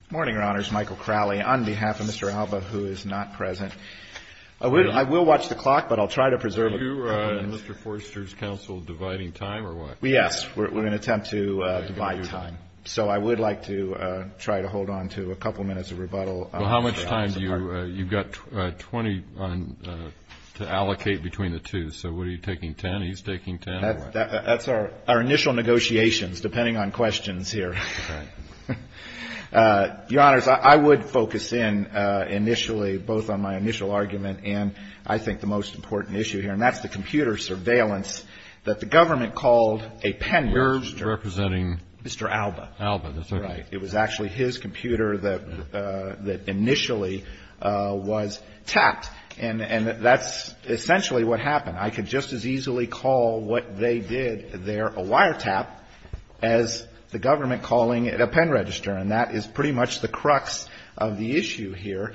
Good morning, Your Honors. Michael Crowley on behalf of Mr. Alba, who is not present. I will watch the clock, but I'll try to preserve it. Are you and Mr. Forrester's counsel dividing time or what? Yes. We're going to attempt to divide time. So I would like to try to hold on to a couple minutes of rebuttal. Well, how much time do you – you've got 20 to allocate between the two. So what are you taking, 10? Are you taking 10 or what? That's our initial negotiations, depending on questions here. All right. Your Honors, I would focus in initially, both on my initial argument and I think the most important issue here, and that's the computer surveillance that the government called a pen-whisker. You're representing? Mr. Alba. Alba, that's right. Right. It was actually his computer that initially was tapped, and that's essentially what happened. I could just as easily call what they did there a wiretap as the government calling it a pen register. And that is pretty much the crux of the issue here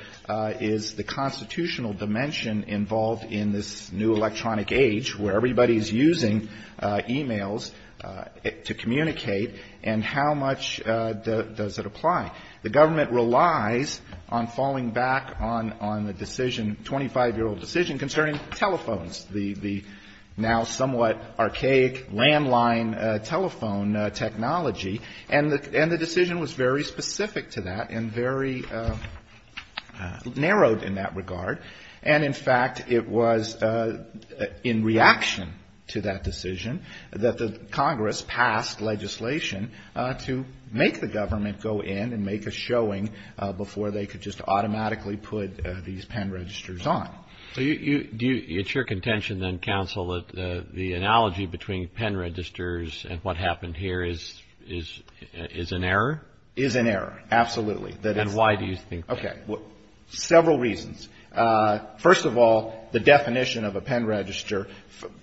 is the constitutional dimension involved in this new electronic age where everybody is using e-mails to communicate and how much does it apply. The government relies on falling back on the decision, 25-year-old decision, concerning telephones, the now somewhat archaic landline telephone technology. And the decision was very specific to that and very narrowed in that regard. And in fact, it was in reaction to that decision that the Congress passed legislation to make the government go in and make a showing before they could just automatically put these pen registers on. So it's your contention then, counsel, that the analogy between pen registers and what happened here is an error? Is an error. Absolutely. And why do you think that? Okay. Well, several reasons. First of all, the definition of a pen register,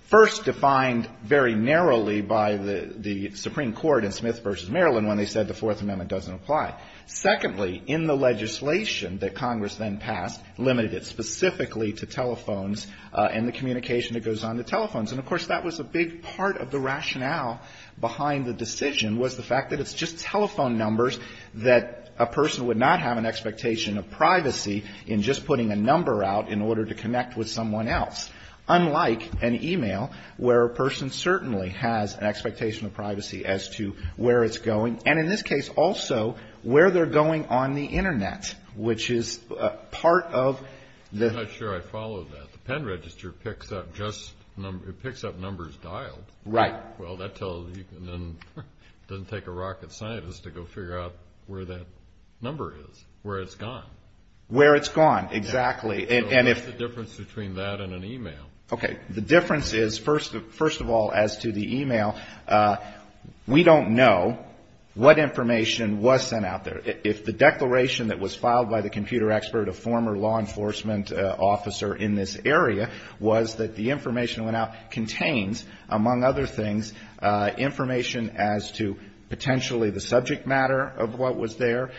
first defined very narrowly by the Supreme Court in Smith v. Maryland when they said the Fourth Amendment doesn't apply. Secondly, in the legislation that Congress then passed limited it specifically to telephones and the communication that goes on the telephones. And of course, that was a big part of the rationale behind the decision was the fact that it's just telephone numbers that a person would not have an expectation of privacy in just putting a number out in order to connect with someone else, unlike an e-mail where a person certainly has an expectation of privacy as to where it's going. And in this case, also, where they're going on the Internet, which is part of the ---- I'm not sure I follow that. The pen register picks up just numbers. It picks up numbers dialed. Right. Well, that tells you then it doesn't take a rocket scientist to go figure out where that number is, where it's gone. Where it's gone, exactly. So what's the difference between that and an e-mail? Okay. The difference is, first of all, as to the e-mail, we don't know what information was sent out there. If the declaration that was filed by the computer expert, a former law enforcement officer in this area, was that the information that went out contains, among other things, information as to potentially the subject matter of what was there,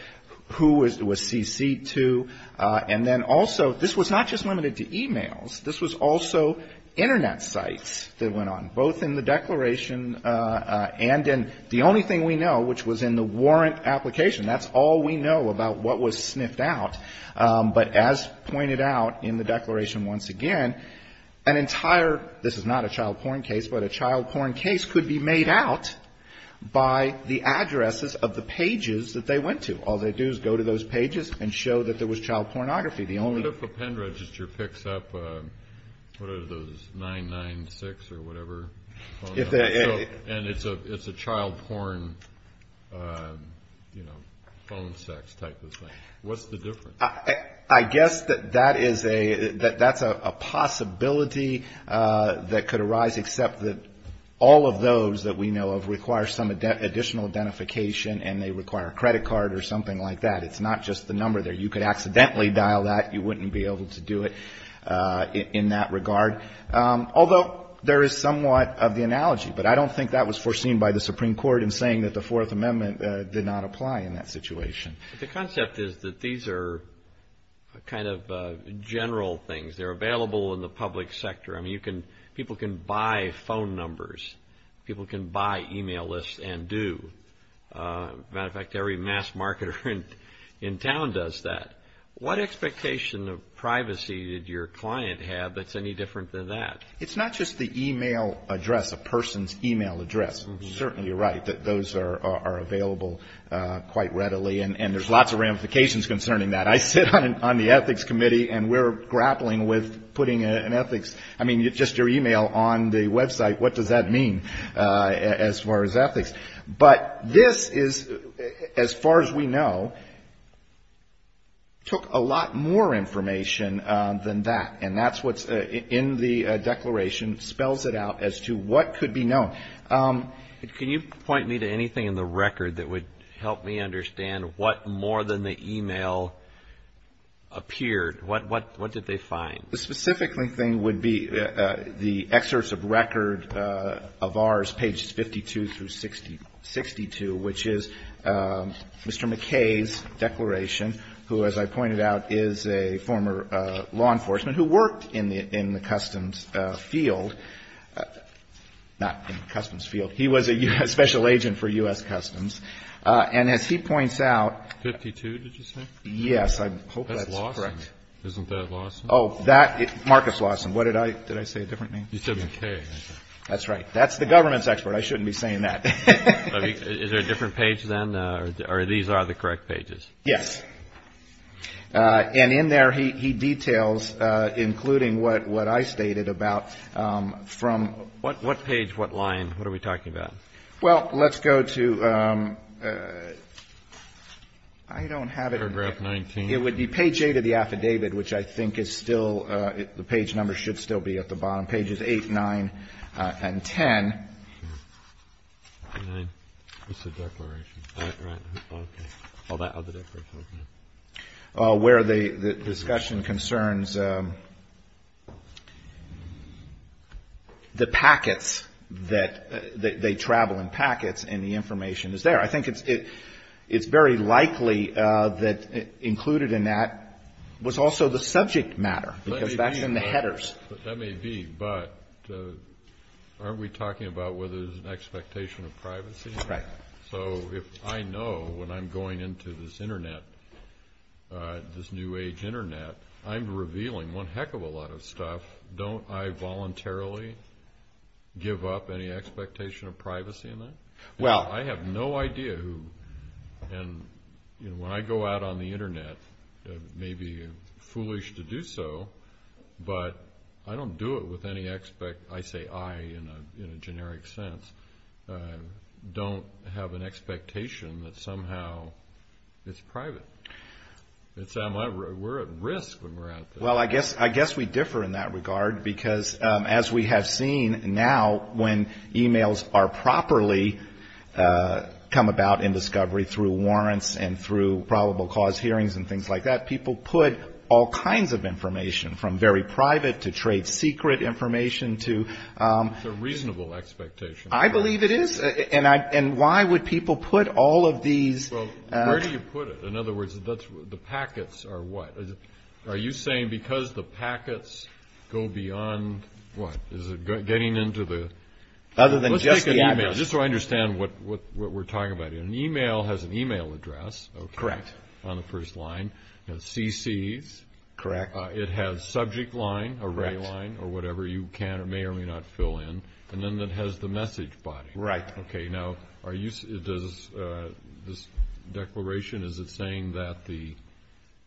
who it was cc'd to. And then also, this was not just limited to e-mails. This was also Internet sites that went on, both in the declaration and in the only thing we know, which was in the warrant application. That's all we know about what was sniffed out. But as pointed out in the declaration once again, an entire, this is not a child porn case, but a child porn case could be made out by the addresses of the pages that they went to. All they do is go to those pages and show that there was child pornography. What if a pen register picks up, what are those, 996 or whatever? And it's a child porn, you know, phone sex type of thing. What's the difference? I guess that that is a, that's a possibility that could arise, except that all of those that we know of require some additional identification and they require a credit card or something like that. It's not just the number there. You could accidentally dial that. You wouldn't be able to do it in that regard. Although there is somewhat of the analogy, but I don't think that was foreseen by the Supreme Court in saying that the Fourth Amendment did not apply in that situation. The concept is that these are kind of general things. They're available in the public sector. I mean, you can, people can buy phone numbers. People can buy e-mail lists and do. As a matter of fact, every mass marketer in town does that. What expectation of privacy did your client have that's any different than that? It's not just the e-mail address, a person's e-mail address. You're certainly right that those are available quite readily. And there's lots of ramifications concerning that. I sit on the Ethics Committee and we're grappling with putting an ethics, I mean, just your e-mail on the website. What does that mean as far as ethics? But this is, as far as we know, took a lot more information than that. And that's what's in the declaration, spells it out as to what could be known. Can you point me to anything in the record that would help me understand what more than the e-mail appeared, what did they find? The specific thing would be the excerpts of record of ours, pages 52 through 62, which is Mr. McKay's declaration, who, as I pointed out, is a former law enforcement who worked in the Customs field, not in the Customs field. He was a special agent for U.S. Customs. And as he points out. 52, did you say? I hope that's correct. That's Lawson. Isn't that Lawson? Oh, that, Marcus Lawson. What did I, did I say a different name? You said McKay. That's right. That's the government's expert. I shouldn't be saying that. Is there a different page then, or these are the correct pages? Yes. And in there he details, including what I stated about, from. What page, what line? What are we talking about? Well, let's go to, I don't have it. Paragraph 19. It would be page 8 of the affidavit, which I think is still, the page number should still be at the bottom, pages 8, 9, and 10. What's the declaration? Oh, that, oh, the declaration. Where the discussion concerns the packets that, they travel in packets, and the information is there. I think it's very likely that included in that was also the subject matter, because that's in the headers. That may be, but aren't we talking about whether there's an expectation of privacy? Right. So if I know when I'm going into this Internet, this new age Internet, I'm revealing one heck of a lot of stuff. Don't I voluntarily give up any expectation of privacy in that? Well. I have no idea who, and, you know, when I go out on the Internet, it may be foolish to do so, but I don't do it with any, I say I in a generic sense, don't have an expectation that somehow it's private. We're at risk when we're out there. Well, I guess we differ in that regard, because as we have seen now, when e-mails are properly come about in discovery through warrants and through probable cause hearings and things like that, people put all kinds of information from very private to trade secret information to. It's a reasonable expectation. I believe it is. And why would people put all of these. Well, where do you put it? In other words, the packets are what? Are you saying because the packets go beyond what? Is it getting into the... Other than just the address. Let's take an e-mail, just so I understand what we're talking about here. An e-mail has an e-mail address. Correct. On the first line. It has CCs. Correct. It has subject line, array line, or whatever you can or may or may not fill in. And then it has the message body. Right. Okay. Now, are you... Does this declaration, is it saying that the...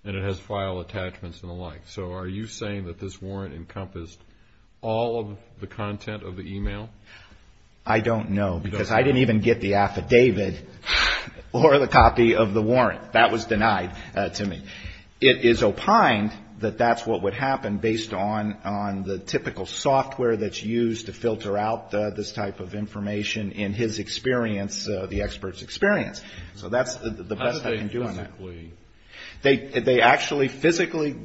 And it has file attachments and the like. So are you saying that this warrant encompassed all of the content of the e-mail? I don't know. Because I didn't even get the affidavit or the copy of the warrant. That was denied to me. It is opined that that's what would happen based on the typical software that's used to filter out this type of information in his experience, the expert's experience. So that's the best I can do on that. How do they physically... They actually physically,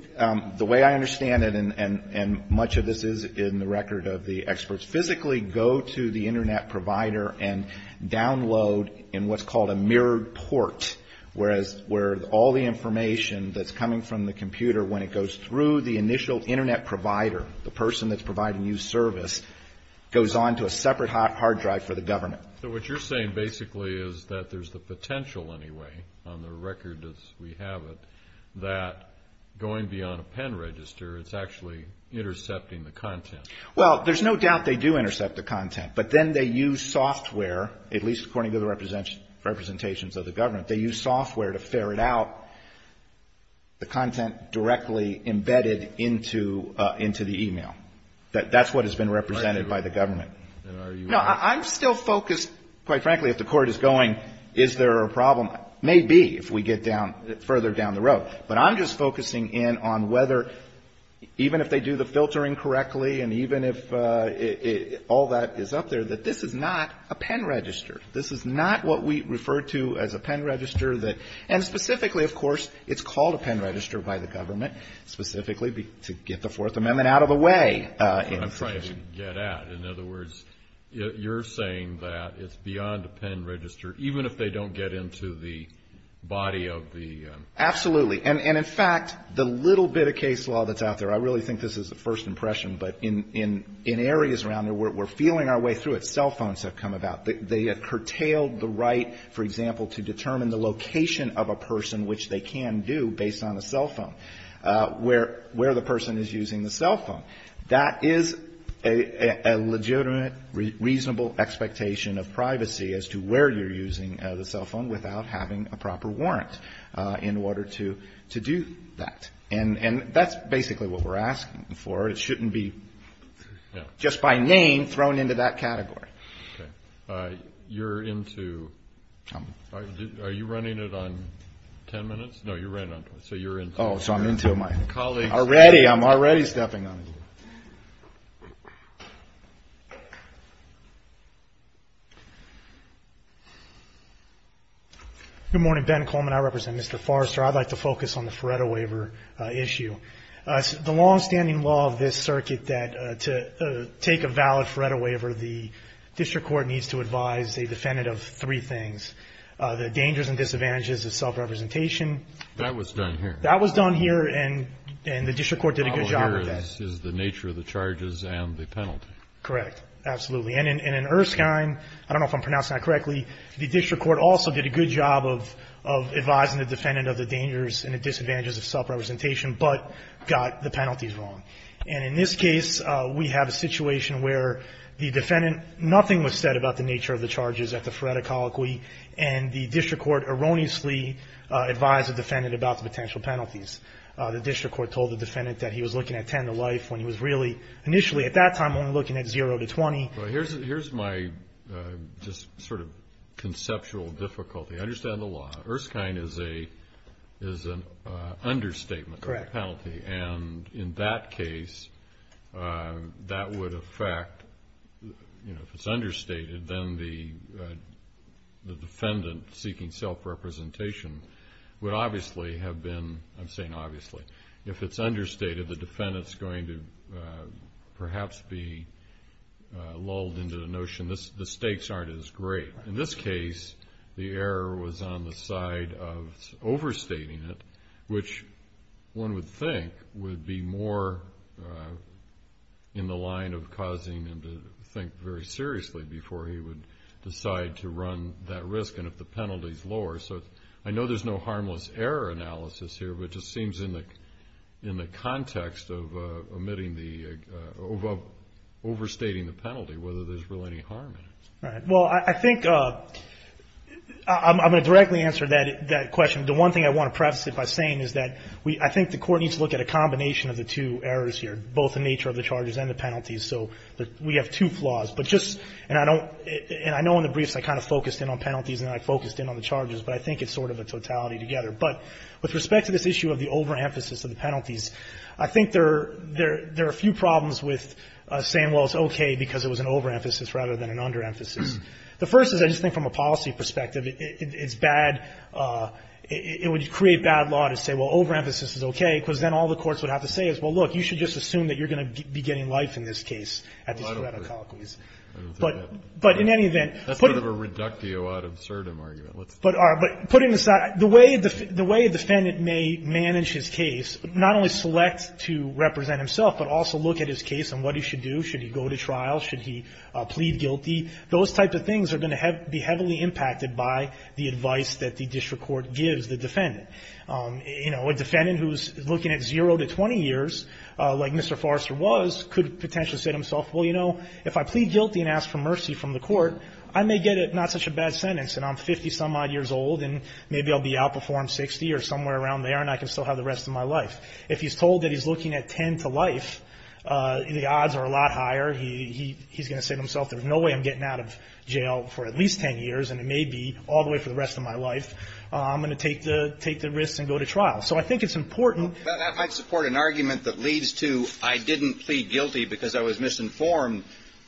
the way I understand it, and much of this is in the record of the experts, physically go to the Internet provider and download in what's called a mirrored port, where all the information that's coming from the computer, when it goes through the initial Internet provider, the person that's providing you service, goes on to a separate hard drive for the government. So what you're saying basically is that there's the potential anyway, on the record as we have it, that going beyond a pen register, it's actually intercepting the content. Well, there's no doubt they do intercept the content. But then they use software, at least according to the representations of the government, they use software to ferret out the content directly embedded into the e-mail. That's what has been represented by the government. No, I'm still focused, quite frankly, if the Court is going, is there a problem? Maybe if we get down, further down the road. But I'm just focusing in on whether, even if they do the filtering correctly and even if all that is up there, that this is not a pen register. This is not what we refer to as a pen register. And specifically, of course, it's called a pen register by the government, specifically to get the Fourth Amendment out of the way. But I'm trying to get at. In other words, you're saying that it's beyond a pen register, even if they don't get into the body of the... Absolutely. And in fact, the little bit of case law that's out there, I really think this is a first impression, but in areas around where we're feeling our way through it, cell phones have come about. They have curtailed the right, for example, to determine the location of a person, which they can do based on a cell phone, where the person is using the cell phone. That is a legitimate, reasonable expectation of privacy as to where you're using the cell phone without having a proper warrant in order to do that. And that's basically what we're asking for. Okay. You're into... I'm... Are you running it on 10 minutes? No, you're right on time. So you're into... Oh, so I'm into my colleagues. Already. I'm already stepping on it. Good morning. Ben Coleman. I represent Mr. Forrester. I'd like to focus on the Feretta Waiver issue. The longstanding law of this circuit that to take a valid Feretta Waiver, the district court needs to advise a defendant of three things, the dangers and disadvantages of self-representation. That was done here. That was done here, and the district court did a good job of that. The problem here is the nature of the charges and the penalty. Correct. Absolutely. And in Erskine, I don't know if I'm pronouncing that correctly, the district court also did a good job of advising the defendant of the dangers and the disadvantages of self-representation, but got the penalties wrong. And in this case, we have a situation where the defendant, nothing was said about the nature of the charges at the Feretta Colloquy, and the district court erroneously advised the defendant about the potential penalties. The district court told the defendant that he was looking at 10 to life when he was really, initially at that time, only looking at zero to 20. Here's my just sort of conceptual difficulty. I understand the law. Erskine is an understatement of the penalty. Correct. And in that case, that would affect, you know, if it's understated, then the defendant seeking self-representation would obviously have been, I'm saying obviously, if it's understated, the defendant's going to perhaps be lulled into the notion the stakes aren't as great. In this case, the error was on the side of overstating it, which one would think would be more in the line of causing him to think very seriously before he would decide to run that risk and if the penalty is lower. So I know there's no harmless error analysis here, but it just seems in the context of omitting the, of overstating the penalty, whether there's really any harm in it. All right. Well, I think I'm going to directly answer that question. The one thing I want to preface it by saying is that we, I think the Court needs to look at a combination of the two errors here, both the nature of the charges and the penalties. So we have two flaws, but just, and I don't, and I know in the briefs I kind of focused in on penalties and I focused in on the charges, but I think it's sort of a totality together. But with respect to this issue of the overemphasis of the penalties, I think there are a few problems with saying, well, it's okay because it was an overemphasis rather than an underemphasis. The first is I just think from a policy perspective, it's bad, it would create bad law to say, well, overemphasis is okay, because then all the courts would have to say is, well, look, you should just assume that you're going to be getting life in this case. But in any event. That's sort of a reductio ad absurdum argument. But putting aside, the way the defendant may manage his case, not only select to represent himself, but also look at his case and what he should do. Should he go to trial? Should he plead guilty? Those type of things are going to be heavily impacted by the advice that the district court gives the defendant. You know, a defendant who's looking at zero to 20 years, like Mr. Forrester was, could potentially say to himself, well, you know, if I plead guilty and ask for mercy from the court, I may get not such a bad sentence and I'm 50-some-odd years old and maybe I'll be out before I'm 60 or somewhere around there and I can still have the rest of my life. If he's told that he's looking at 10 to life, the odds are a lot higher. He's going to say to himself, there's no way I'm getting out of jail for at least 10 years, and it may be all the way for the rest of my life. I'm going to take the risk and go to trial. So I think it's important. That might support an argument that leads to I didn't plead guilty because I was misinformed,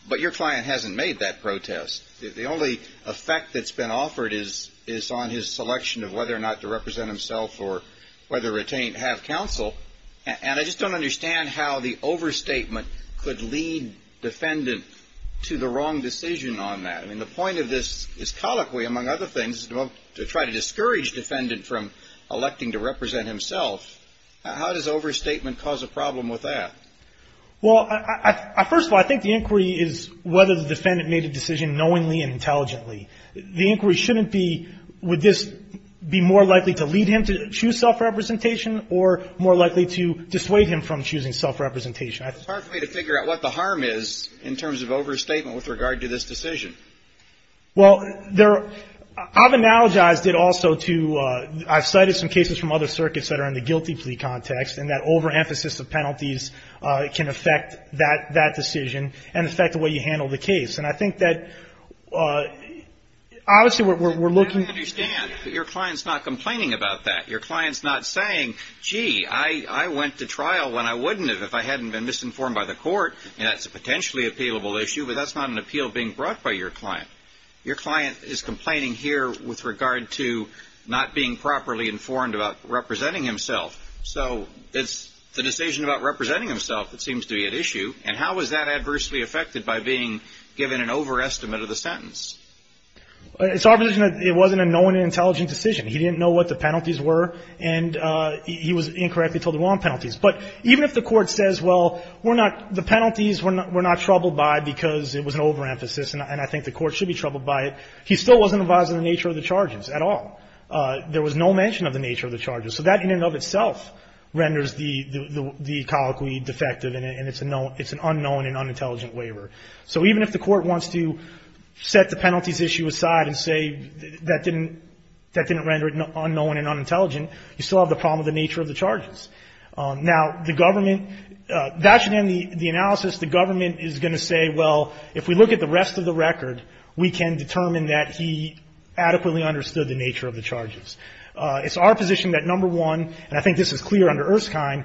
but your client hasn't made that protest. The only effect that's been offered is on his selection of whether or not to represent himself or whether to have counsel. And I just don't understand how the overstatement could lead defendant to the wrong decision on that. I mean, the point of this is colloquy, among other things, to try to discourage defendant from electing to represent himself. How does overstatement cause a problem with that? Well, first of all, I think the inquiry is whether the defendant made a decision knowingly and intelligently. The inquiry shouldn't be would this be more likely to lead him to choose self-representation or more likely to dissuade him from choosing self-representation. It's hard for me to figure out what the harm is in terms of overstatement with regard to this decision. Well, I've analogized it also to I've cited some cases from other circuits that are in the guilty plea context and that overemphasis of penalties can affect that decision and affect the way you handle the case. And I think that, obviously, we're looking at. I understand that your client's not complaining about that. Your client's not saying, gee, I went to trial when I wouldn't have if I hadn't been misinformed by the court. And that's a potentially appealable issue. But that's not an appeal being brought by your client. Your client is complaining here with regard to not being properly informed about representing himself. So it's the decision about representing himself that seems to be at issue. And how is that adversely affected by being given an overestimate of the sentence? It's our position that it wasn't a known and intelligent decision. He didn't know what the penalties were, and he was incorrectly told he won penalties. But even if the court says, well, we're not the penalties were not troubled by because it was an overemphasis and I think the court should be troubled by it, he still wasn't advised of the nature of the charges at all. There was no mention of the nature of the charges. So that in and of itself renders the colloquy defective, and it's an unknown and unintelligent waiver. So even if the court wants to set the penalties issue aside and say that didn't render it unknown and unintelligent, you still have the problem of the nature of the charges. Now, the government, that should end the analysis. The government is going to say, well, if we look at the rest of the record, we can determine that he adequately understood the nature of the charges. It's our position that, number one, and I think this is clear under Erskine,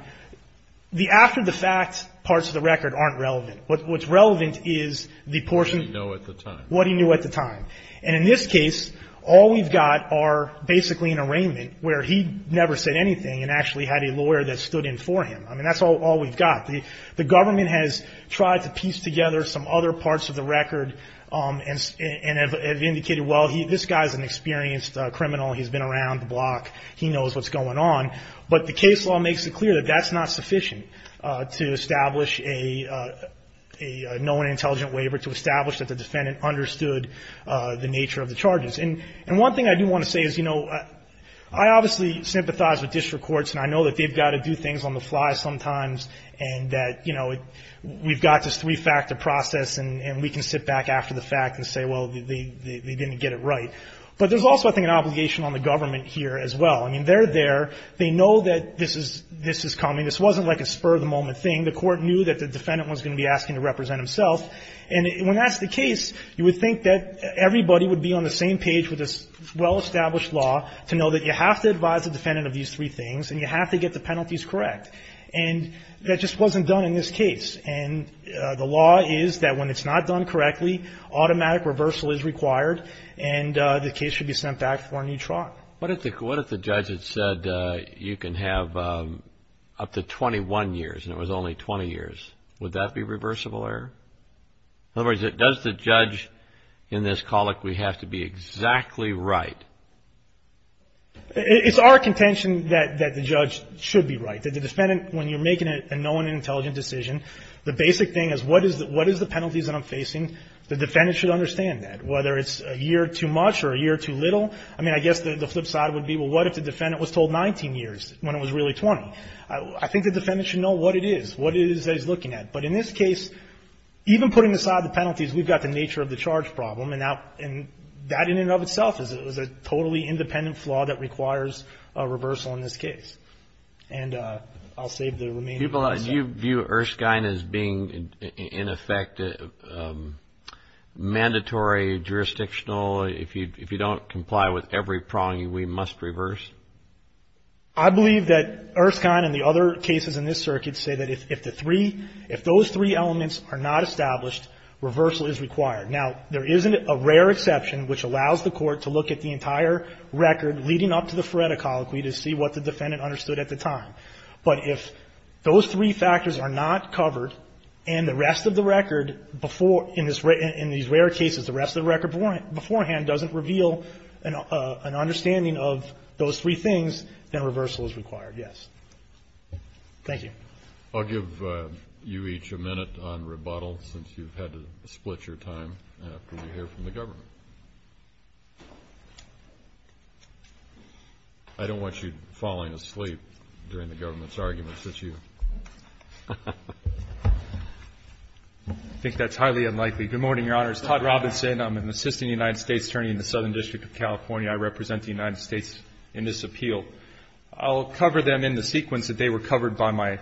the after the fact parts of the record aren't relevant. What's relevant is the portion of what he knew at the time. And in this case, all we've got are basically an arraignment where he never said anything and actually had a lawyer that stood in for him. I mean, that's all we've got. The government has tried to piece together some other parts of the record and have indicated, well, this guy's an experienced criminal. He's been around the block. He knows what's going on. But the case law makes it clear that that's not sufficient to establish a known and intelligent waiver, to establish that the defendant understood the nature of the charges. And one thing I do want to say is, you know, I obviously sympathize with district courts, and I know that they've got to do things on the fly sometimes and that, you know, we've got this three-factor process and we can sit back after the fact and say, well, they didn't get it right. But there's also, I think, an obligation on the government here as well. I mean, they're there. They know that this is coming. This wasn't like a spur-of-the-moment thing. The court knew that the defendant was going to be asking to represent himself. And when that's the case, you would think that everybody would be on the same page with this well-established law to know that you have to advise the defendant of these three things and you have to get the penalties correct. And that just wasn't done in this case. And the law is that when it's not done correctly, automatic reversal is required. And the case should be sent back for a new trial. What if the judge had said you can have up to 21 years and it was only 20 years? Would that be reversible error? In other words, does the judge in this colloquy have to be exactly right? It's our contention that the judge should be right. That the defendant, when you're making a known and intelligent decision, the basic thing is what is the penalties that I'm facing? The defendant should understand that. Whether it's a year too much or a year too little, I mean, I guess the flip side would be, well, what if the defendant was told 19 years when it was really 20? I think the defendant should know what it is, what it is that he's looking at. But in this case, even putting aside the penalties, we've got the nature of the charge problem. And that in and of itself is a totally independent flaw that requires a reversal in this case. And I'll save the remainder for myself. Do you view Erskine as being, in effect, mandatory, jurisdictional? If you don't comply with every prong, we must reverse? I believe that Erskine and the other cases in this circuit say that if the three, if those three elements are not established, reversal is required. Now, there is a rare exception, which allows the court to look at the entire record leading up to the Feretta Colloquy to see what the defendant understood at the time. But if those three factors are not covered, and the rest of the record before, in these rare cases, the rest of the record beforehand doesn't reveal an understanding of those three things, then reversal is required, yes. Thank you. I'll give you each a minute on rebuttal, since you've had to split your time after you hear from the government. I don't want you falling asleep during the government's arguments this year. I think that's highly unlikely. Good morning, Your Honors. Todd Robinson. I'm an assistant United States attorney in the Southern District of California. I represent the United States in this appeal. I'll cover them in the sequence that they were covered by my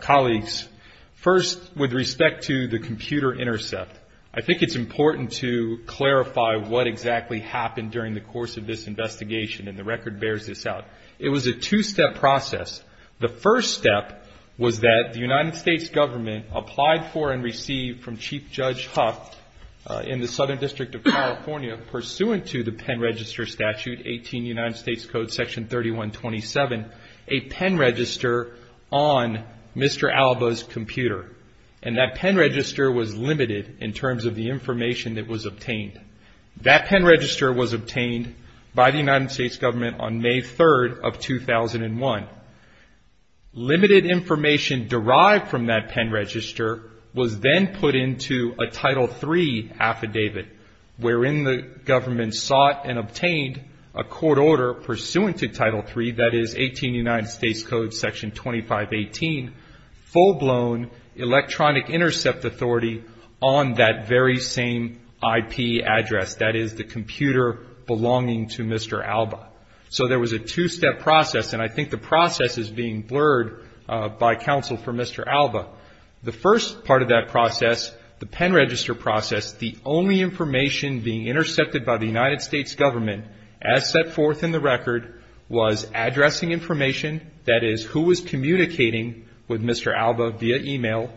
colleagues. First, with respect to the computer intercept, I think it's important to clarify what exactly happened during the course of this investigation, and the record bears this out. It was a two-step process. The first step was that the United States government applied for and received from Chief Judge Huff in the Southern District of California, pursuant to the Pen Register Statute, 18 United States Code, Section 3127, a pen register on Mr. Alba's computer. And that pen register was limited in terms of the information that was obtained. That pen register was obtained by the United States government on May 3rd of 2001. Limited information derived from that pen register was then put into a Title III affidavit, wherein the government sought and obtained a court order pursuant to Title III, that is, 18 United States Code, Section 2518, full-blown electronic intercept authority on that very same IP address, that is, the computer belonging to Mr. Alba. So there was a two-step process, and I think the process is being blurred by counsel for Mr. Alba. The first part of that process, the pen register process, the only information being intercepted by the United States government, as set forth in the record, was addressing information, that is, who was communicating with Mr. Alba via e-mail.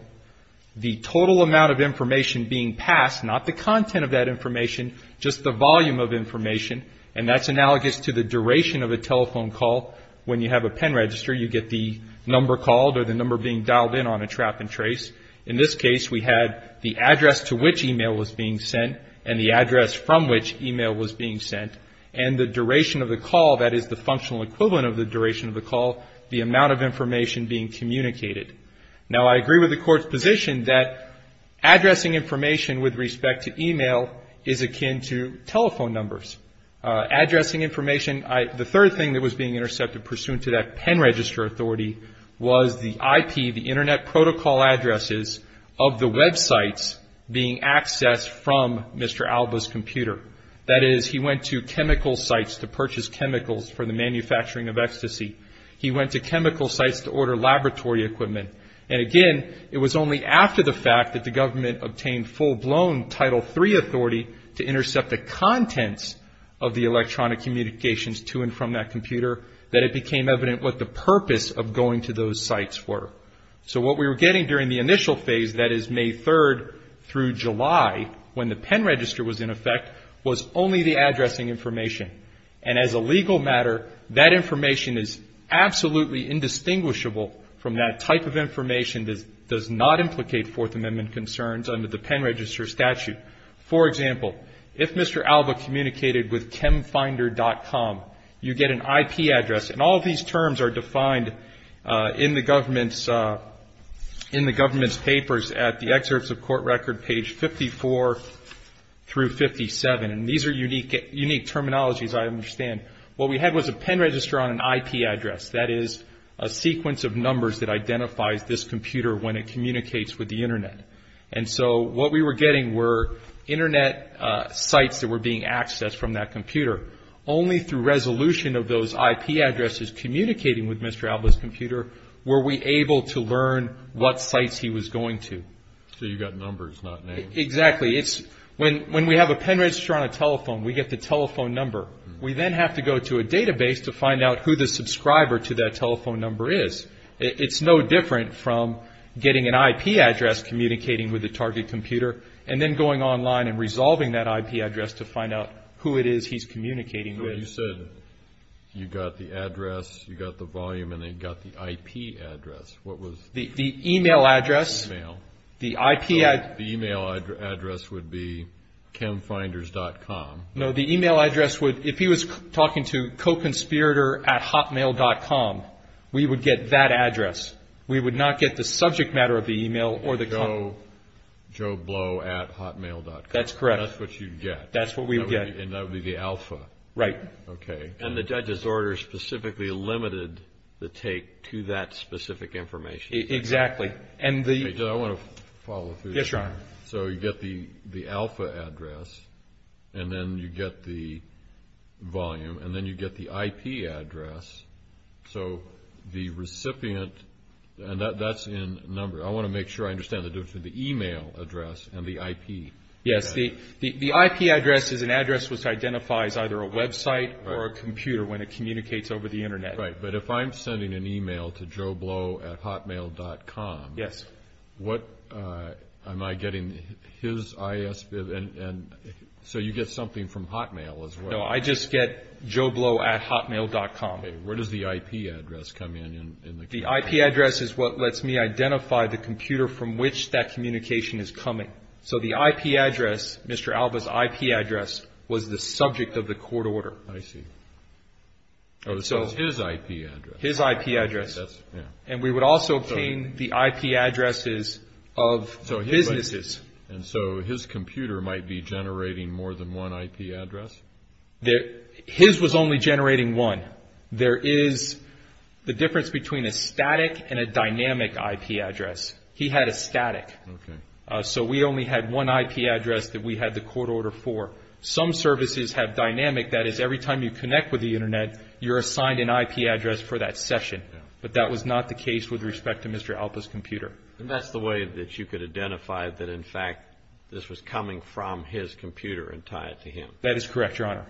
The total amount of information being passed, not the content of that information, just the volume of information, and that's analogous to the duration of a telephone call. When you have a pen register, you get the number called or the number being dialed in on a trap and trace. In this case, we had the address to which e-mail was being sent and the address from which e-mail was being sent. And the duration of the call, that is, the functional equivalent of the duration of the call, the amount of information being communicated. Now, I agree with the Court's position that addressing information with respect to e-mail is akin to telephone numbers. Addressing information, the third thing that was being intercepted pursuant to that pen register authority was the IP, the internet protocol addresses of the websites being accessed from Mr. Alba's computer. That is, he went to chemical sites to purchase chemicals for the manufacturing of ecstasy. He went to chemical sites to order laboratory equipment. And again, it was only after the fact that the government obtained full-blown Title III authority to intercept the contents of the electronic communications to and from that computer that it became evident what the purpose of going to those sites were. So what we were getting during the initial phase, that is, May 3rd through July, when the pen register was in effect, was only the addressing information. And as a legal matter, that information is absolutely indistinguishable from that type of information that does not implicate Fourth Amendment concerns under the pen register statute. For example, if Mr. Alba communicated with chemfinder.com, you get an IP address. And all of these terms are defined in the government's papers at the excerpts of court record page 54 through 57. And these are unique terminologies, I understand. What we had was a pen register on an IP address, that is, a sequence of numbers that identifies this computer when it communicates with the internet. And so what we were getting were internet sites that were being accessed from that computer. Only through resolution of those IP addresses communicating with Mr. Alba's computer were we able to learn what sites he was going to. So you got numbers, not names. Exactly. When we have a pen register on a telephone, we get the telephone number. We then have to go to a database to find out who the subscriber to that telephone number is. It's no different from getting an IP address communicating with the target computer and then going online and resolving that IP address to find out who it is he's communicating with. You said you got the address, you got the volume, and then you got the IP address. What was the IP address? The email address. So the email address would be chemfinders.com. No, the email address would, if he was talking to co-conspirator at hotmail.com, we would get that address. We would not get the subject matter of the email. Joeblow at hotmail.com. That's correct. That's what you'd get. That's what we would get. And that would be the alpha. Right. Okay. And the judge's order specifically limited the take to that specific information. Exactly. I want to follow through. Yes, Your Honor. So you get the alpha address, and then you get the volume, and then you get the IP address. So the recipient, and that's in numbers. I want to make sure I understand the difference between the email address and the IP address. Yes. The IP address is an address which identifies either a website or a computer when it communicates over the Internet. Right. But if I'm sending an email to joeblow at hotmail.com, what am I getting? So you get something from Hotmail as well. No, I just get joeblow at hotmail.com. Okay. Where does the IP address come in? The IP address is what lets me identify the computer from which that communication is coming. So the IP address, Mr. Alba's IP address, was the subject of the court order. I see. So it's his IP address. His IP address. And we would also obtain the IP addresses of businesses. And so his computer might be generating more than one IP address? His was only generating one. There is the difference between a static and a dynamic IP address. He had a static. Okay. So we only had one IP address that we had the court order for. Some services have dynamic. That is, every time you connect with the Internet, you're assigned an IP address for that session. But that was not the case with respect to Mr. Alba's computer. And that's the way that you could identify that, in fact, this was coming from his computer and tie it to him. That is correct, Your Honor.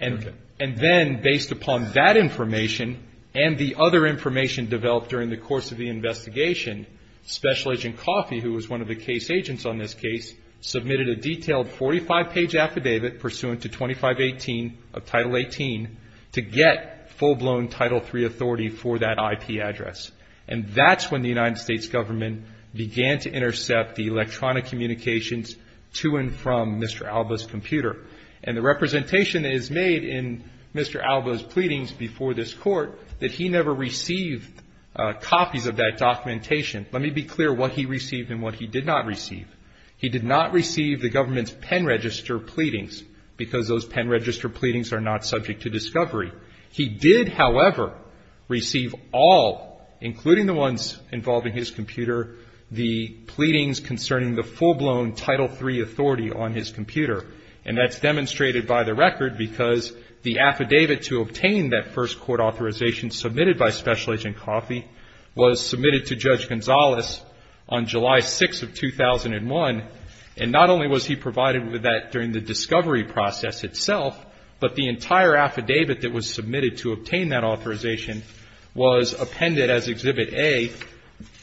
Okay. And then, based upon that information and the other information developed during the course of the investigation, Special Agent Coffey, who was one of the case agents on this case, submitted a detailed 45-page affidavit pursuant to 2518 of Title 18 to get full-blown Title III authority for that IP address. And that's when the United States government began to intercept the electronic communications to and from Mr. Alba's computer. And the representation is made in Mr. Alba's pleadings before this court that he never received copies of that documentation. Let me be clear what he received and what he did not receive. He did not receive the government's pen register pleadings because those pen register pleadings are not subject to discovery. He did, however, receive all, including the ones involving his computer, the pleadings concerning the full-blown Title III authority on his computer. And that's demonstrated by the record because the affidavit to obtain that first court authorization submitted by Special Agent Coffey was submitted to Judge Gonzalez on July 6th of 2001. And not only was he provided with that during the discovery process itself, but the entire affidavit that was submitted to obtain that authorization was appended as Exhibit A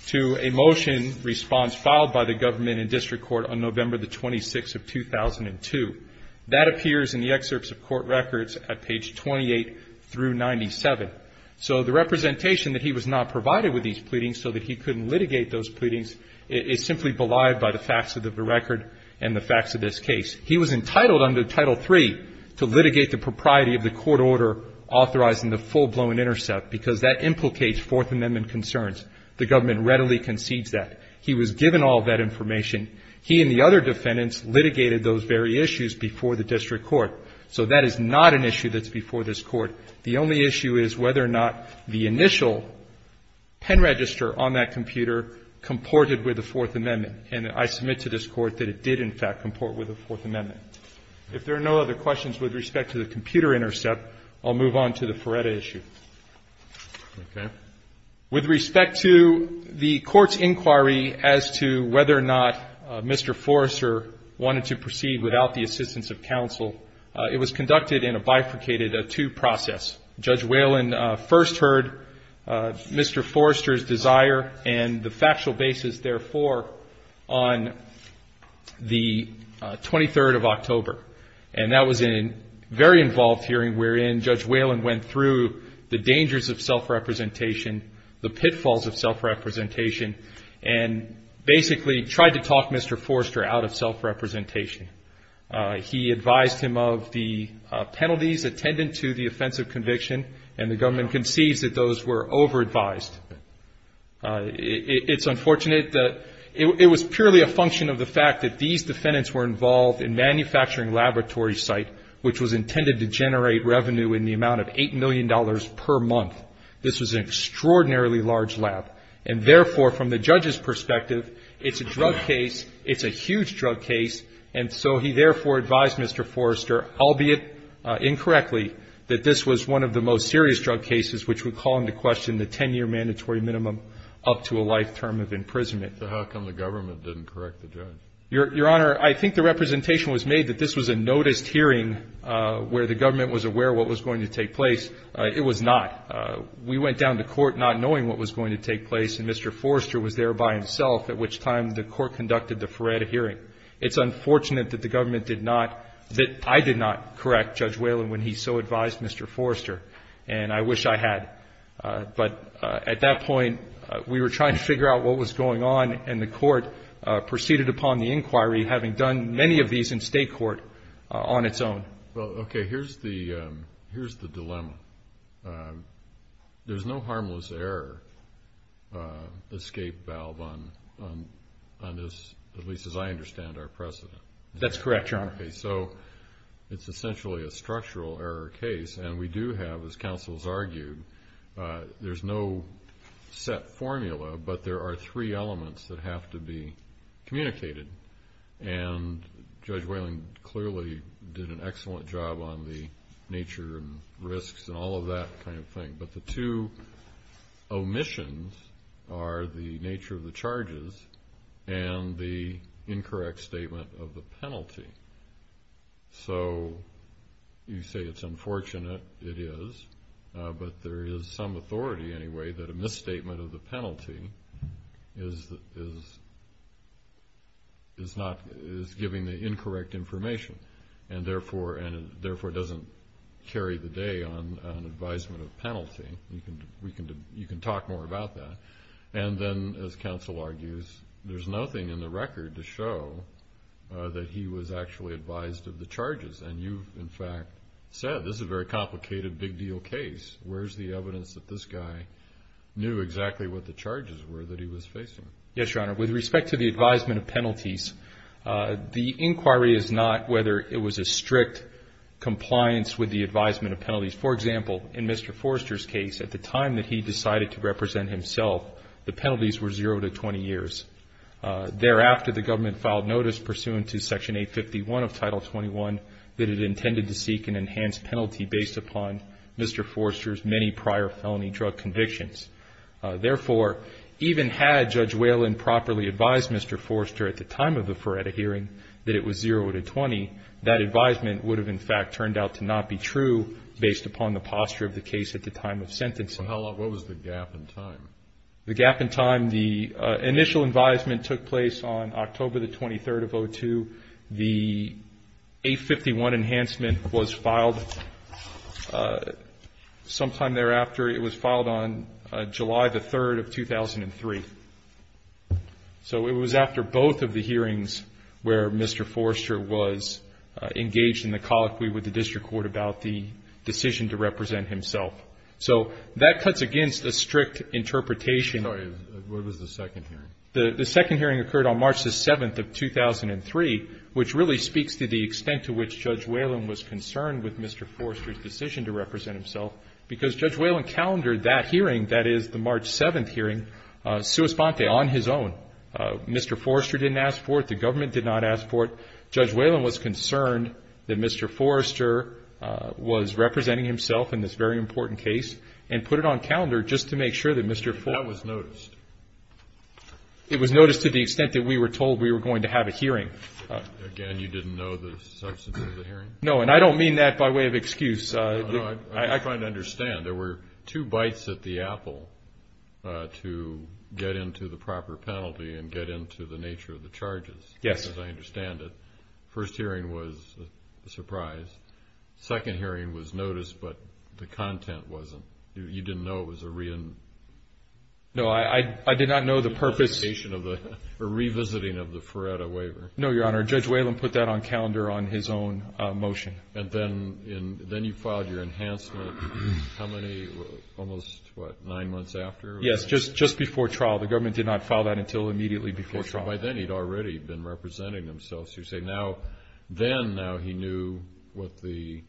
to a motion response filed by the government and district court on November the 26th of 2002. That appears in the excerpts of court records at page 28 through 97. So the representation that he was not provided with these pleadings so that he couldn't litigate those pleadings is simply belied by the facts of the record and the facts of this case. He was entitled under Title III to litigate the propriety of the court order authorizing the full-blown intercept because that implicates Fourth Amendment concerns. The government readily concedes that. He was given all of that information. He and the other defendants litigated those very issues before the district court. So that is not an issue that's before this Court. The only issue is whether or not the initial pen register on that computer comported with the Fourth Amendment. And I submit to this Court that it did, in fact, comport with the Fourth Amendment. If there are no other questions with respect to the computer intercept, I'll move on to the Feretta issue. Okay. With respect to the Court's inquiry as to whether or not Mr. Forrester wanted to proceed without the assistance of counsel, it was conducted in a bifurcated two-process. Judge Whalen first heard Mr. Forrester's desire and the factual basis, therefore, on the 23rd of October. And that was a very involved hearing wherein Judge Whalen went through the dangers of self-representation, the pitfalls of self-representation, and basically tried to talk Mr. Forrester out of self-representation. He advised him of the penalties attendant to the offensive conviction, and the government concedes that those were over-advised. It's unfortunate that it was purely a function of the fact that these defendants were involved in manufacturing laboratory site, which was intended to generate revenue in the amount of $8 million per month. This was an extraordinarily large lab. And therefore, from the judge's perspective, it's a drug case, it's a huge drug case, and so he therefore advised Mr. Forrester, albeit incorrectly, that this was one of the most serious drug cases which would call into question the 10-year mandatory minimum up to a life term of imprisonment. So how come the government didn't correct the judge? Your Honor, I think the representation was made that this was a noticed hearing where the government was aware of what was going to take place. It was not. We went down to court not knowing what was going to take place, and Mr. Forrester was there by himself, at which time the court conducted the Ferretta hearing. It's unfortunate that the government did not, that I did not correct Judge Whalen when he so advised Mr. Forrester, and I wish I had. But at that point, we were trying to figure out what was going on, and the court proceeded upon the inquiry, having done many of these in state court on its own. Well, okay, here's the dilemma. There's no harmless error escape valve on this, at least as I understand our precedent. That's correct, Your Honor. Okay, so it's essentially a structural error case, and we do have, as counsels argued, there's no set formula, but there are three elements that have to be communicated. And Judge Whalen clearly did an excellent job on the nature and risks and all of that kind of thing, but the two omissions are the nature of the charges and the incorrect statement of the penalty. So you say it's unfortunate. It is, but there is some authority anyway that a misstatement of the penalty is giving the incorrect information and therefore doesn't carry the day on advisement of penalty. You can talk more about that. And then, as counsel argues, there's nothing in the record to show that he was actually advised of the charges, and you, in fact, said this is a very complicated, big deal case. Where's the evidence that this guy knew exactly what the charges were that he was facing? Yes, Your Honor, with respect to the advisement of penalties, the inquiry is not whether it was a strict compliance with the advisement of penalties. For example, in Mr. Forrester's case, at the time that he decided to represent himself, the penalties were zero to 20 years. Thereafter, the government filed notice pursuant to Section 851 of Title 21 that it intended to seek an enhanced penalty based upon Mr. Forrester's many prior felony drug convictions. Therefore, even had Judge Whalen properly advised Mr. Forrester at the time of the Feretta hearing that it was zero to 20, that advisement would have, in fact, turned out to not be true based upon the posture of the case at the time of sentencing. What was the gap in time? The gap in time, the initial advisement took place on October the 23rd of 2002. The 851 enhancement was filed sometime thereafter. It was filed on July the 3rd of 2003. So it was after both of the hearings where Mr. Forrester was engaged in the colloquy with the district court about the decision to represent himself. So that cuts against a strict interpretation. Sorry, what was the second hearing? The second hearing occurred on March the 7th of 2003, which really speaks to the extent to which Judge Whalen was concerned with Mr. Forrester's decision to represent himself, because Judge Whalen calendared that hearing, that is, the March 7th hearing, sua sponte, on his own. Mr. Forrester didn't ask for it. The government did not ask for it. Judge Whalen was concerned that Mr. Forrester was representing himself in this very important case and put it on calendar just to make sure that Mr. Forrester That was noticed. It was noticed to the extent that we were told we were going to have a hearing. Again, you didn't know the substance of the hearing? No, and I don't mean that by way of excuse. No, I'm trying to understand. There were two bites at the apple to get into the proper penalty and get into the nature of the charges. Yes. As far as I understand it, the first hearing was a surprise. The second hearing was noticed, but the content wasn't. You didn't know it was a reenactment? No, I did not know the purpose. It was a reenactment of the revisiting of the Ferretta waiver. No, Your Honor, Judge Whalen put that on calendar on his own motion. And then you filed your enhancement how many, almost what, nine months after? Yes, just before trial. The government did not file that until immediately before trial. By then he'd already been representing himself. So you're saying now then he knew what the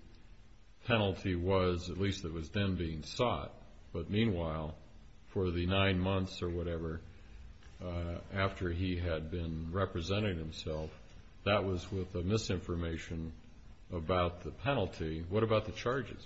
penalty was, at least it was then being sought. But meanwhile, for the nine months or whatever after he had been representing himself, that was with the misinformation about the penalty. What about the charges?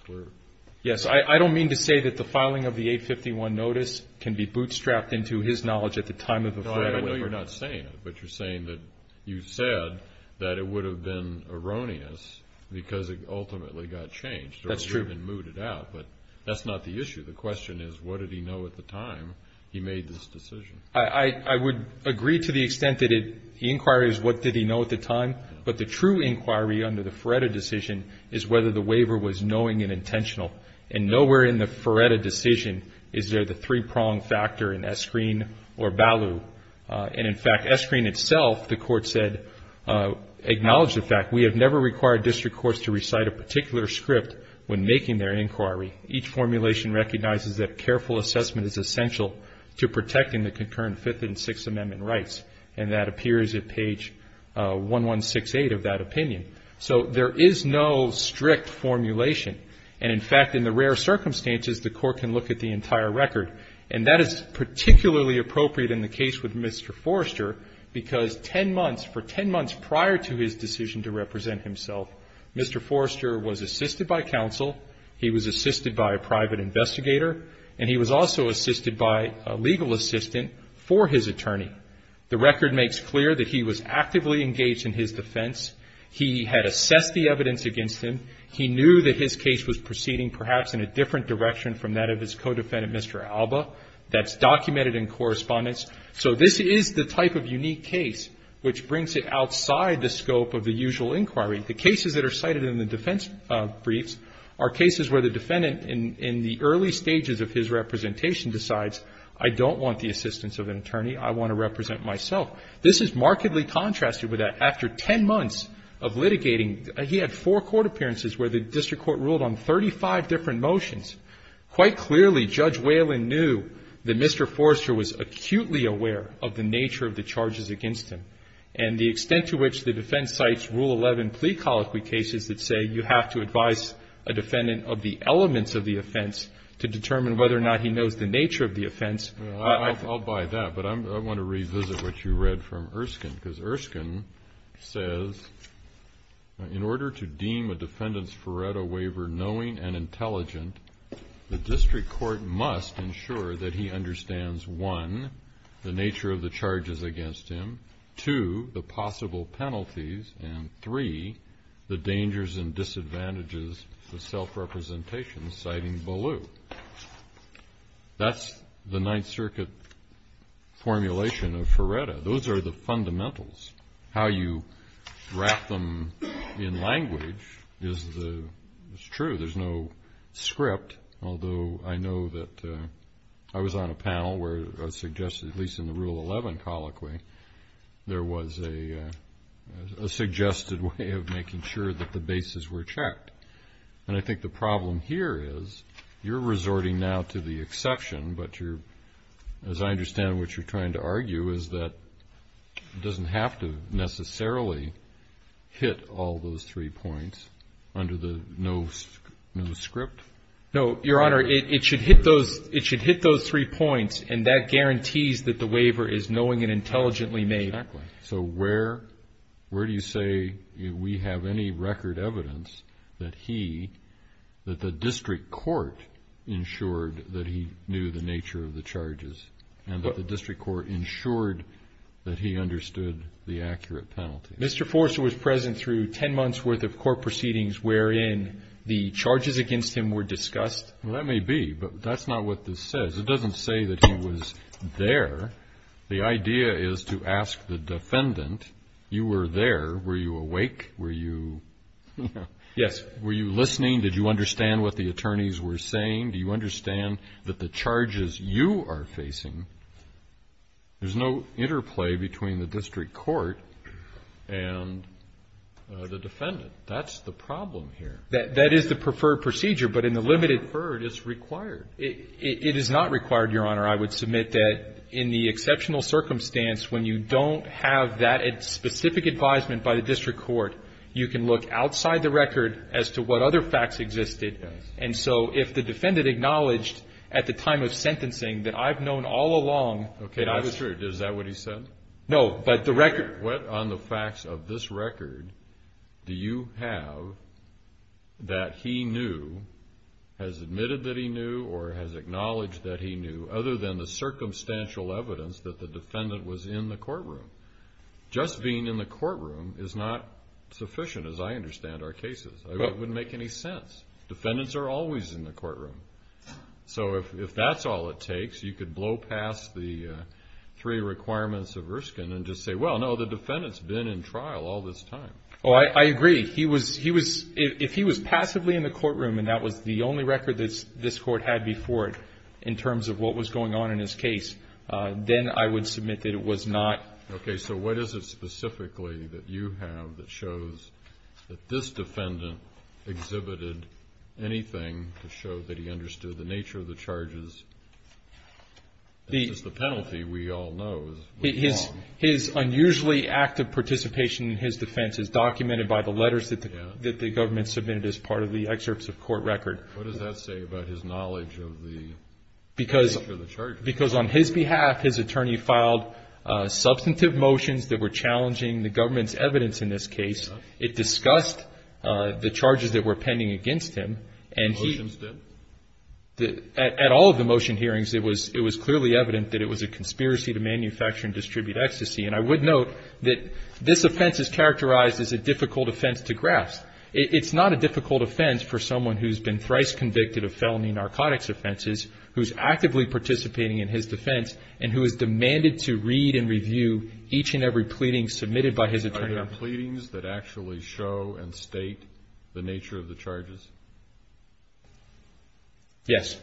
Yes, I don't mean to say that the filing of the 851 notice can be bootstrapped into his knowledge at the time of the Ferretta waiver. I know you're not saying it, but you're saying that you said that it would have been erroneous because it ultimately got changed or would have been mooted out. That's true. But that's not the issue. The question is what did he know at the time he made this decision? I would agree to the extent that the inquiry is what did he know at the time, but the true inquiry under the Ferretta decision is whether the waiver was knowing and intentional. And nowhere in the Ferretta decision is there the three-prong factor in Eskreen or Ballew. And, in fact, Eskreen itself, the court said, acknowledged the fact, we have never required district courts to recite a particular script when making their inquiry. Each formulation recognizes that careful assessment is essential to protecting the concurrent Fifth and Sixth Amendment rights, and that appears at page 1168 of that opinion. So there is no strict formulation. And, in fact, in the rare circumstances, the court can look at the entire record. And that is particularly appropriate in the case with Mr. Forrester because ten months, for ten months prior to his decision to represent himself, Mr. Forrester was assisted by counsel, he was assisted by a private investigator, and he was also assisted by a legal assistant for his attorney. The record makes clear that he was actively engaged in his defense. He had assessed the evidence against him. He knew that his case was proceeding perhaps in a different direction from that of his co-defendant, Mr. Alba. That's documented in correspondence. So this is the type of unique case which brings it outside the scope of the usual inquiry. The cases that are cited in the defense briefs are cases where the defendant, in the early stages of his representation, decides, I don't want the assistance of an attorney. I want to represent myself. This is markedly contrasted with that. He had four court appearances where the district court ruled on 35 different motions. Quite clearly, Judge Whalen knew that Mr. Forrester was acutely aware of the nature of the charges against him. And the extent to which the defense cites Rule 11 plea colloquy cases that say you have to advise a defendant of the elements of the offense to determine whether or not he knows the nature of the offense. I'll buy that, but I want to revisit what you read from Erskine, because Erskine says, in order to deem a defendant's Faretto waiver knowing and intelligent, the district court must ensure that he understands, one, the nature of the charges against him, two, the possible penalties, and three, the dangers and disadvantages of self-representation, citing Ballew. So that's the Ninth Circuit formulation of Faretto. Those are the fundamentals. How you wrap them in language is true. There's no script, although I know that I was on a panel where it was suggested, at least in the Rule 11 colloquy, there was a suggested way of making sure that the bases were checked. And I think the problem here is you're resorting now to the exception, but as I understand what you're trying to argue is that it doesn't have to necessarily hit all those three points under the no script. No, Your Honor, it should hit those three points, and that guarantees that the waiver is knowing and intelligently made. Exactly. So where do you say we have any record evidence that he, that the district court ensured that he knew the nature of the charges and that the district court ensured that he understood the accurate penalty? Mr. Forster was present through 10 months' worth of court proceedings wherein the charges against him were discussed. Well, that may be, but that's not what this says. It doesn't say that he was there. The idea is to ask the defendant, you were there. Were you awake? Were you listening? Did you understand what the attorneys were saying? Do you understand that the charges you are facing, there's no interplay between the district court and the defendant. That's the problem here. That is the preferred procedure, but in the limited third, it's required. It is not required, Your Honor. I would submit that in the exceptional circumstance, when you don't have that specific advisement by the district court, you can look outside the record as to what other facts existed. And so if the defendant acknowledged at the time of sentencing that I've known all along. Okay, that's true. Is that what he said? No, but the record. What on the facts of this record do you have that he knew, has admitted that he knew or has acknowledged that he knew, other than the circumstantial evidence that the defendant was in the courtroom? Just being in the courtroom is not sufficient, as I understand our cases. It wouldn't make any sense. Defendants are always in the courtroom. So if that's all it takes, you could blow past the three requirements of Erskine and just say, well, no, the defendant's been in trial all this time. If he was passively in the courtroom and that was the only record that this court had before it in terms of what was going on in his case, then I would submit that it was not. Okay, so what is it specifically that you have that shows that this defendant exhibited anything to show that he understood the nature of the charges? It's just the penalty, we all know, is wrong. His unusually active participation in his defense is documented by the letters that the government submitted as part of the excerpts of court record. What does that say about his knowledge of the nature of the charges? Because on his behalf, his attorney filed substantive motions that were challenging the government's evidence in this case. It discussed the charges that were pending against him. The motions did? At all of the motion hearings, it was clearly evident that it was a conspiracy to manufacture and distribute ecstasy. And I would note that this offense is characterized as a difficult offense to grasp. It's not a difficult offense for someone who's been thrice convicted of felony narcotics offenses, who's actively participating in his defense, and who is demanded to read and review each and every pleading submitted by his attorney. Are there pleadings that actually show and state the nature of the charges? Yes.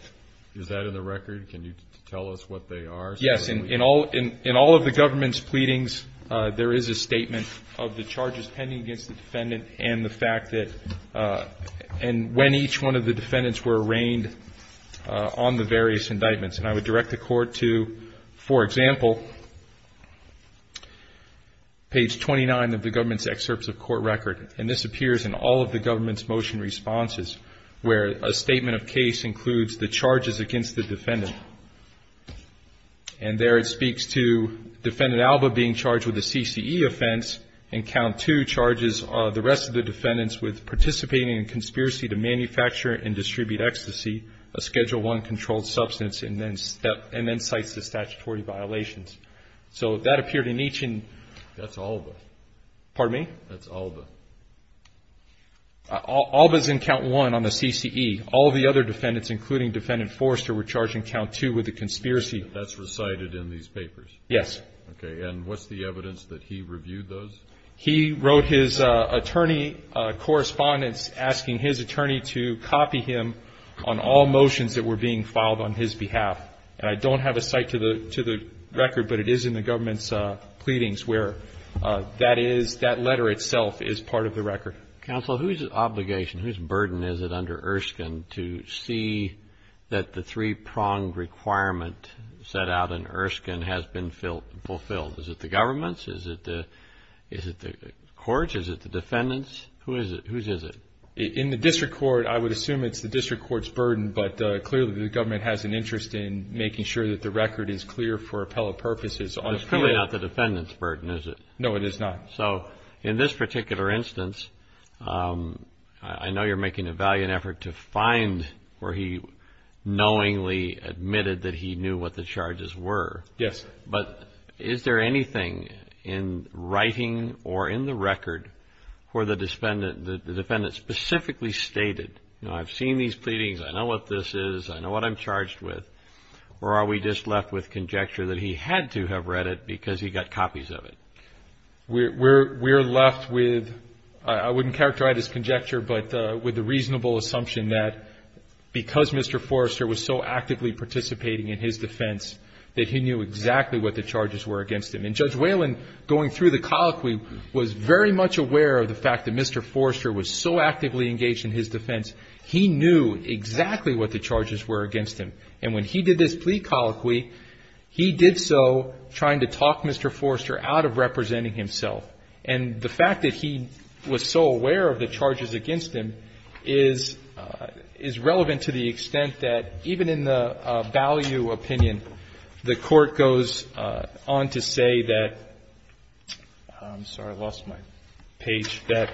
Is that in the record? Can you tell us what they are specifically? Yes. In all of the government's pleadings, there is a statement of the charges pending against the defendant and when each one of the defendants were arraigned on the various indictments. And I would direct the court to, for example, page 29 of the government's excerpts of court record. And this appears in all of the government's motion responses, where a statement of case includes the charges against the defendant. And there it speaks to defendant Alba being charged with a CCE offense and count two charges the rest of the defendants with participating in a conspiracy to manufacture and distribute ecstasy, a Schedule I controlled substance, and then cites the statutory violations. So that appeared in each. That's Alba. Pardon me? That's Alba. Alba's in count one on the CCE. All the other defendants, including defendant Forrester, were charged in count two with a conspiracy. That's recited in these papers? Yes. Okay. And what's the evidence that he reviewed those? He wrote his attorney correspondence asking his attorney to copy him on all motions that were being filed on his behalf. And I don't have a cite to the record, but it is in the government's pleadings where that is, that letter itself is part of the record. Counsel, whose obligation, whose burden is it under Erskine to see that the three-pronged requirement set out in Erskine has been fulfilled? Is it the government's? Is it the court's? Is it the defendant's? Whose is it? In the district court, I would assume it's the district court's burden, but clearly the government has an interest in making sure that the record is clear for appellate purposes. It's clearly not the defendant's burden, is it? No, it is not. So in this particular instance, I know you're making a valiant effort to find where he knowingly admitted that he knew what the charges were. Yes. But is there anything in writing or in the record where the defendant specifically stated, I've seen these pleadings, I know what this is, I know what I'm charged with, or are we just left with conjecture that he had to have read it because he got copies of it? We're left with, I wouldn't characterize it as conjecture, but with the reasonable assumption that because Mr. Forrester was so actively participating in his defense, that he knew exactly what the charges were against him. And Judge Whalen, going through the colloquy, was very much aware of the fact that Mr. Forrester was so actively engaged in his defense, he knew exactly what the charges were against him. And when he did this plea colloquy, he did so trying to talk Mr. Forrester out of representing himself. And the fact that he was so aware of the charges against him is relevant to the extent that, even in the Balleau opinion, the Court goes on to say that, I'm sorry, I lost my page, that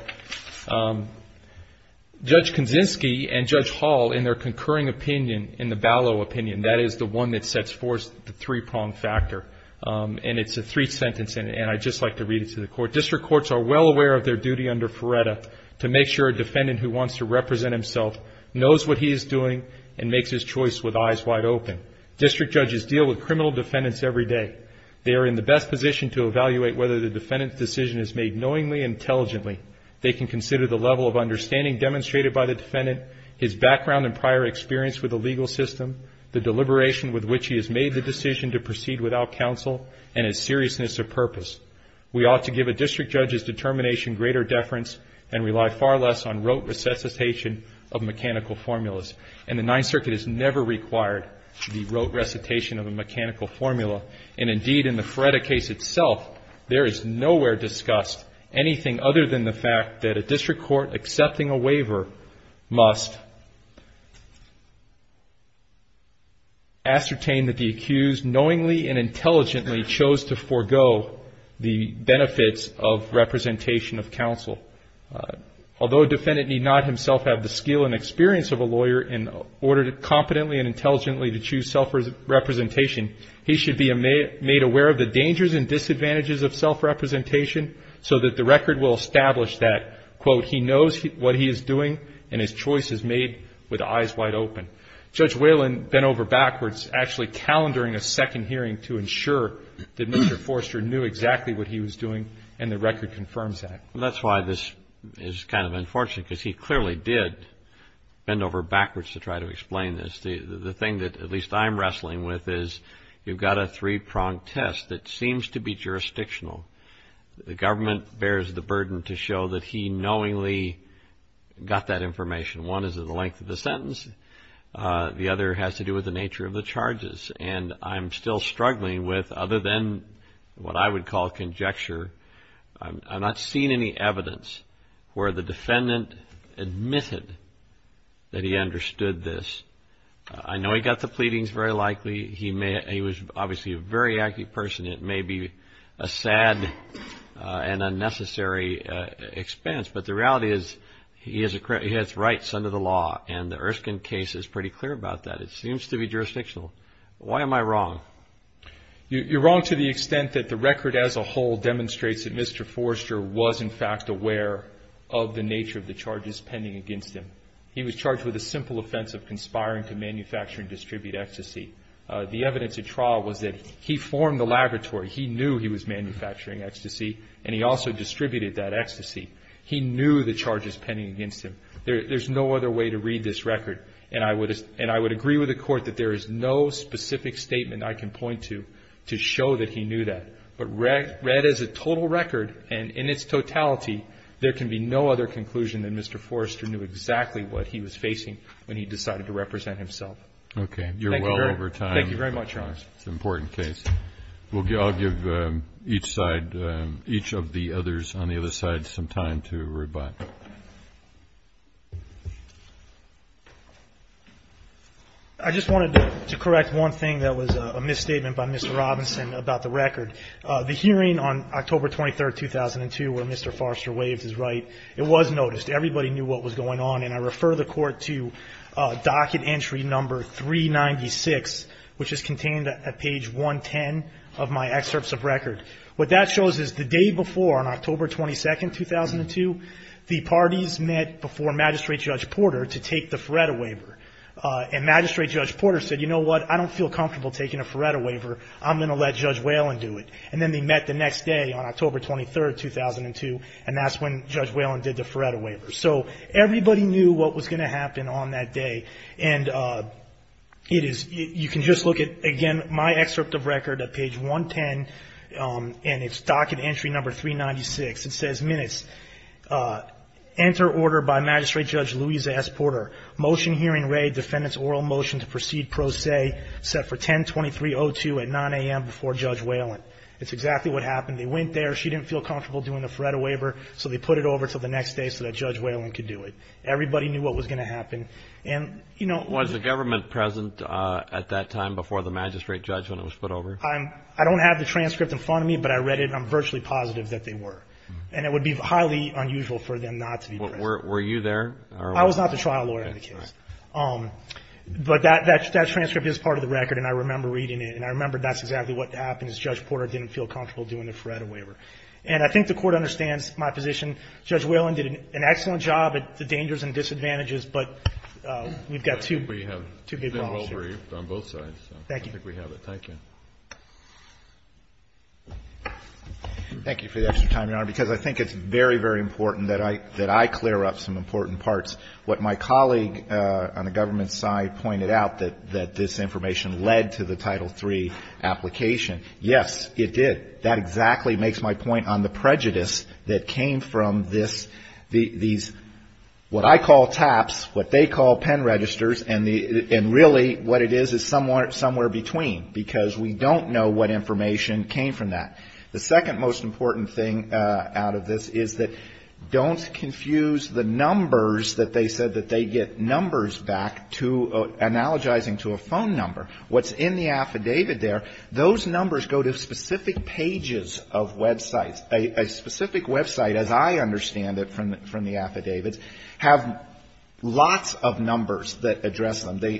Judge Kaczynski and Judge Hall, in their concurring opinion, in the Balleau opinion, that is the one that sets forth the three-prong factor. And it's a three-sentence, and I'd just like to read it to the Court. District courts are well aware of their duty under Ferretta to make sure a defendant who wants to represent himself knows what he is doing and makes his choice with eyes wide open. District judges deal with criminal defendants every day. They are in the best position to evaluate whether the defendant's decision is made knowingly and intelligently. They can consider the level of understanding demonstrated by the defendant, his background and prior experience with the legal system, the deliberation with which he has made the decision to proceed without counsel, and his seriousness of purpose. We ought to give a district judge's determination greater deference and rely far less on rote recitation of mechanical formulas. And the Ninth Circuit has never required the rote recitation of a mechanical formula. And indeed, in the Ferretta case itself, there is nowhere discussed anything other than the fact that a district court accepting a waiver must ascertain that the accused knowingly and intelligently chose to forego the benefits of representation of counsel. Although a defendant need not himself have the skill and experience of a lawyer in order to competently and intelligently to choose self-representation, he should be made aware of the dangers and disadvantages of self-representation so that the record will establish that, quote, he knows what he is doing and his choice is made with eyes wide open. Judge Whalen bent over backwards, actually calendaring a second hearing to ensure that Mr. Forster knew exactly what he was doing and the record confirms that. That's why this is kind of unfortunate because he clearly did bend over backwards to try to explain this. The thing that at least I'm wrestling with is you've got a three-pronged test that seems to be jurisdictional. The government bears the burden to show that he knowingly got that information. One is the length of the sentence. The other has to do with the nature of the charges. And I'm still struggling with, other than what I would call conjecture, I'm not seeing any evidence where the defendant admitted that he understood this. I know he got the pleadings very likely. He was obviously a very active person. It may be a sad and unnecessary expense. But the reality is he has rights under the law, and the Erskine case is pretty clear about that. Why am I wrong? You're wrong to the extent that the record as a whole demonstrates that Mr. Forster was, in fact, aware of the nature of the charges pending against him. He was charged with a simple offense of conspiring to manufacture and distribute ecstasy. The evidence at trial was that he formed the laboratory. He knew he was manufacturing ecstasy, and he also distributed that ecstasy. He knew the charges pending against him. There's no other way to read this record, and I would agree with the Court that there is no specific statement I can point to to show that he knew that. But read as a total record, and in its totality, there can be no other conclusion that Mr. Forster knew exactly what he was facing when he decided to represent himself. Okay. You're well over time. Thank you very much, Your Honors. It's an important case. I'll give each of the others on the other side some time to reply. I just wanted to correct one thing that was a misstatement by Mr. Robinson about the record. The hearing on October 23, 2002, where Mr. Forster waives his right, it was noticed. Everybody knew what was going on, and I refer the Court to docket entry number 396, which is contained at page 110 of my excerpts of record. What that shows is the day before, on October 22, 2002, the parties met before Magistrate Judge Porter to take the Feretta waiver. And Magistrate Judge Porter said, you know what? I don't feel comfortable taking a Feretta waiver. I'm going to let Judge Whalen do it. And then they met the next day on October 23, 2002, and that's when Judge Whalen did the Feretta waiver. So everybody knew what was going to happen on that day. And you can just look at, again, my excerpt of record at page 110, and it's docket entry number 396. It says, minutes, enter order by Magistrate Judge Louisa S. Porter, motion hearing raid, defendant's oral motion to proceed pro se, set for 10-23-02 at 9 a.m. before Judge Whalen. That's exactly what happened. They went there. She didn't feel comfortable doing the Feretta waiver, so they put it over until the next day so that Judge Whalen could do it. Everybody knew what was going to happen. Was the government present at that time before the Magistrate Judge when it was put over? I don't have the transcript in front of me, but I read it, and I'm virtually positive that they were. And it would be highly unusual for them not to be present. Were you there? I was not the trial lawyer in the case. But that transcript is part of the record, and I remember reading it, and I remember that's exactly what happened is Judge Porter didn't feel comfortable doing the Feretta waiver. And I think the Court understands my position. Judge Whalen did an excellent job at the dangers and disadvantages, but we've got two big problems here. We have been well-briefed on both sides. Thank you. I think we have it. Thank you. Thank you for the extra time, Your Honor, because I think it's very, very important that I clear up some important parts. What my colleague on the government side pointed out, that this information led to the Title III application. Yes, it did. That exactly makes my point on the prejudice that came from this, these, what I call taps, what they call pen registers, and really what it is is somewhere between, because we don't know what information came from that. The second most important thing out of this is that don't confuse the numbers that they said that they get numbers back to analogizing to a phone number. What's in the affidavit there, those numbers go to specific pages of websites. A specific website, as I understand it from the affidavits, have lots of numbers that address them. They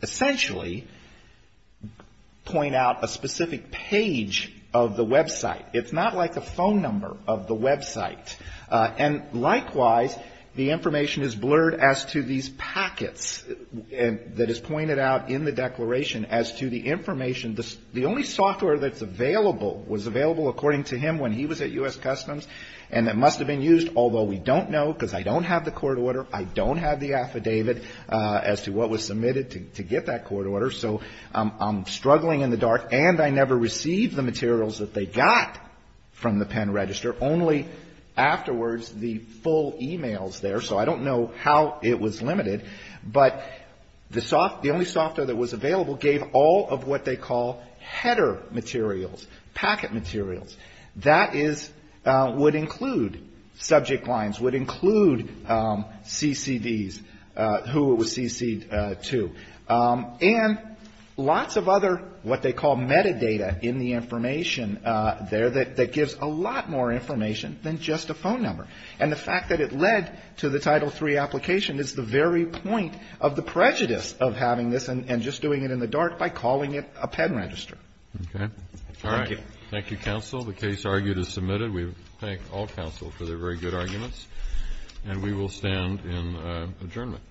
essentially point out a specific page of the website. It's not like a phone number of the website. And likewise, the information is blurred as to these packets that is pointed out in the declaration as to the information. The only software that's available was available, according to him, when he was at U.S. Customs, and it must have been used, although we don't know, because I don't have the court order, I don't have the affidavit as to what was submitted to get that court order. So I'm struggling in the dark, and I never received the materials that they got from the pen register, only afterwards the full e-mails there, so I don't know how it was limited. But the only software that was available gave all of what they call header materials, packet materials. That is, would include subject lines, would include CCDs, who it was CC'd to. And lots of other what they call metadata in the information there that gives a lot more information than just a phone number. And the fact that it led to the Title III application is the very point of the prejudice of having this and just doing it in the dark by calling it a pen register. Okay. Thank you. All right. Thank you, counsel. The case argued is submitted. We thank all counsel for their very good arguments, and we will stand in adjournment.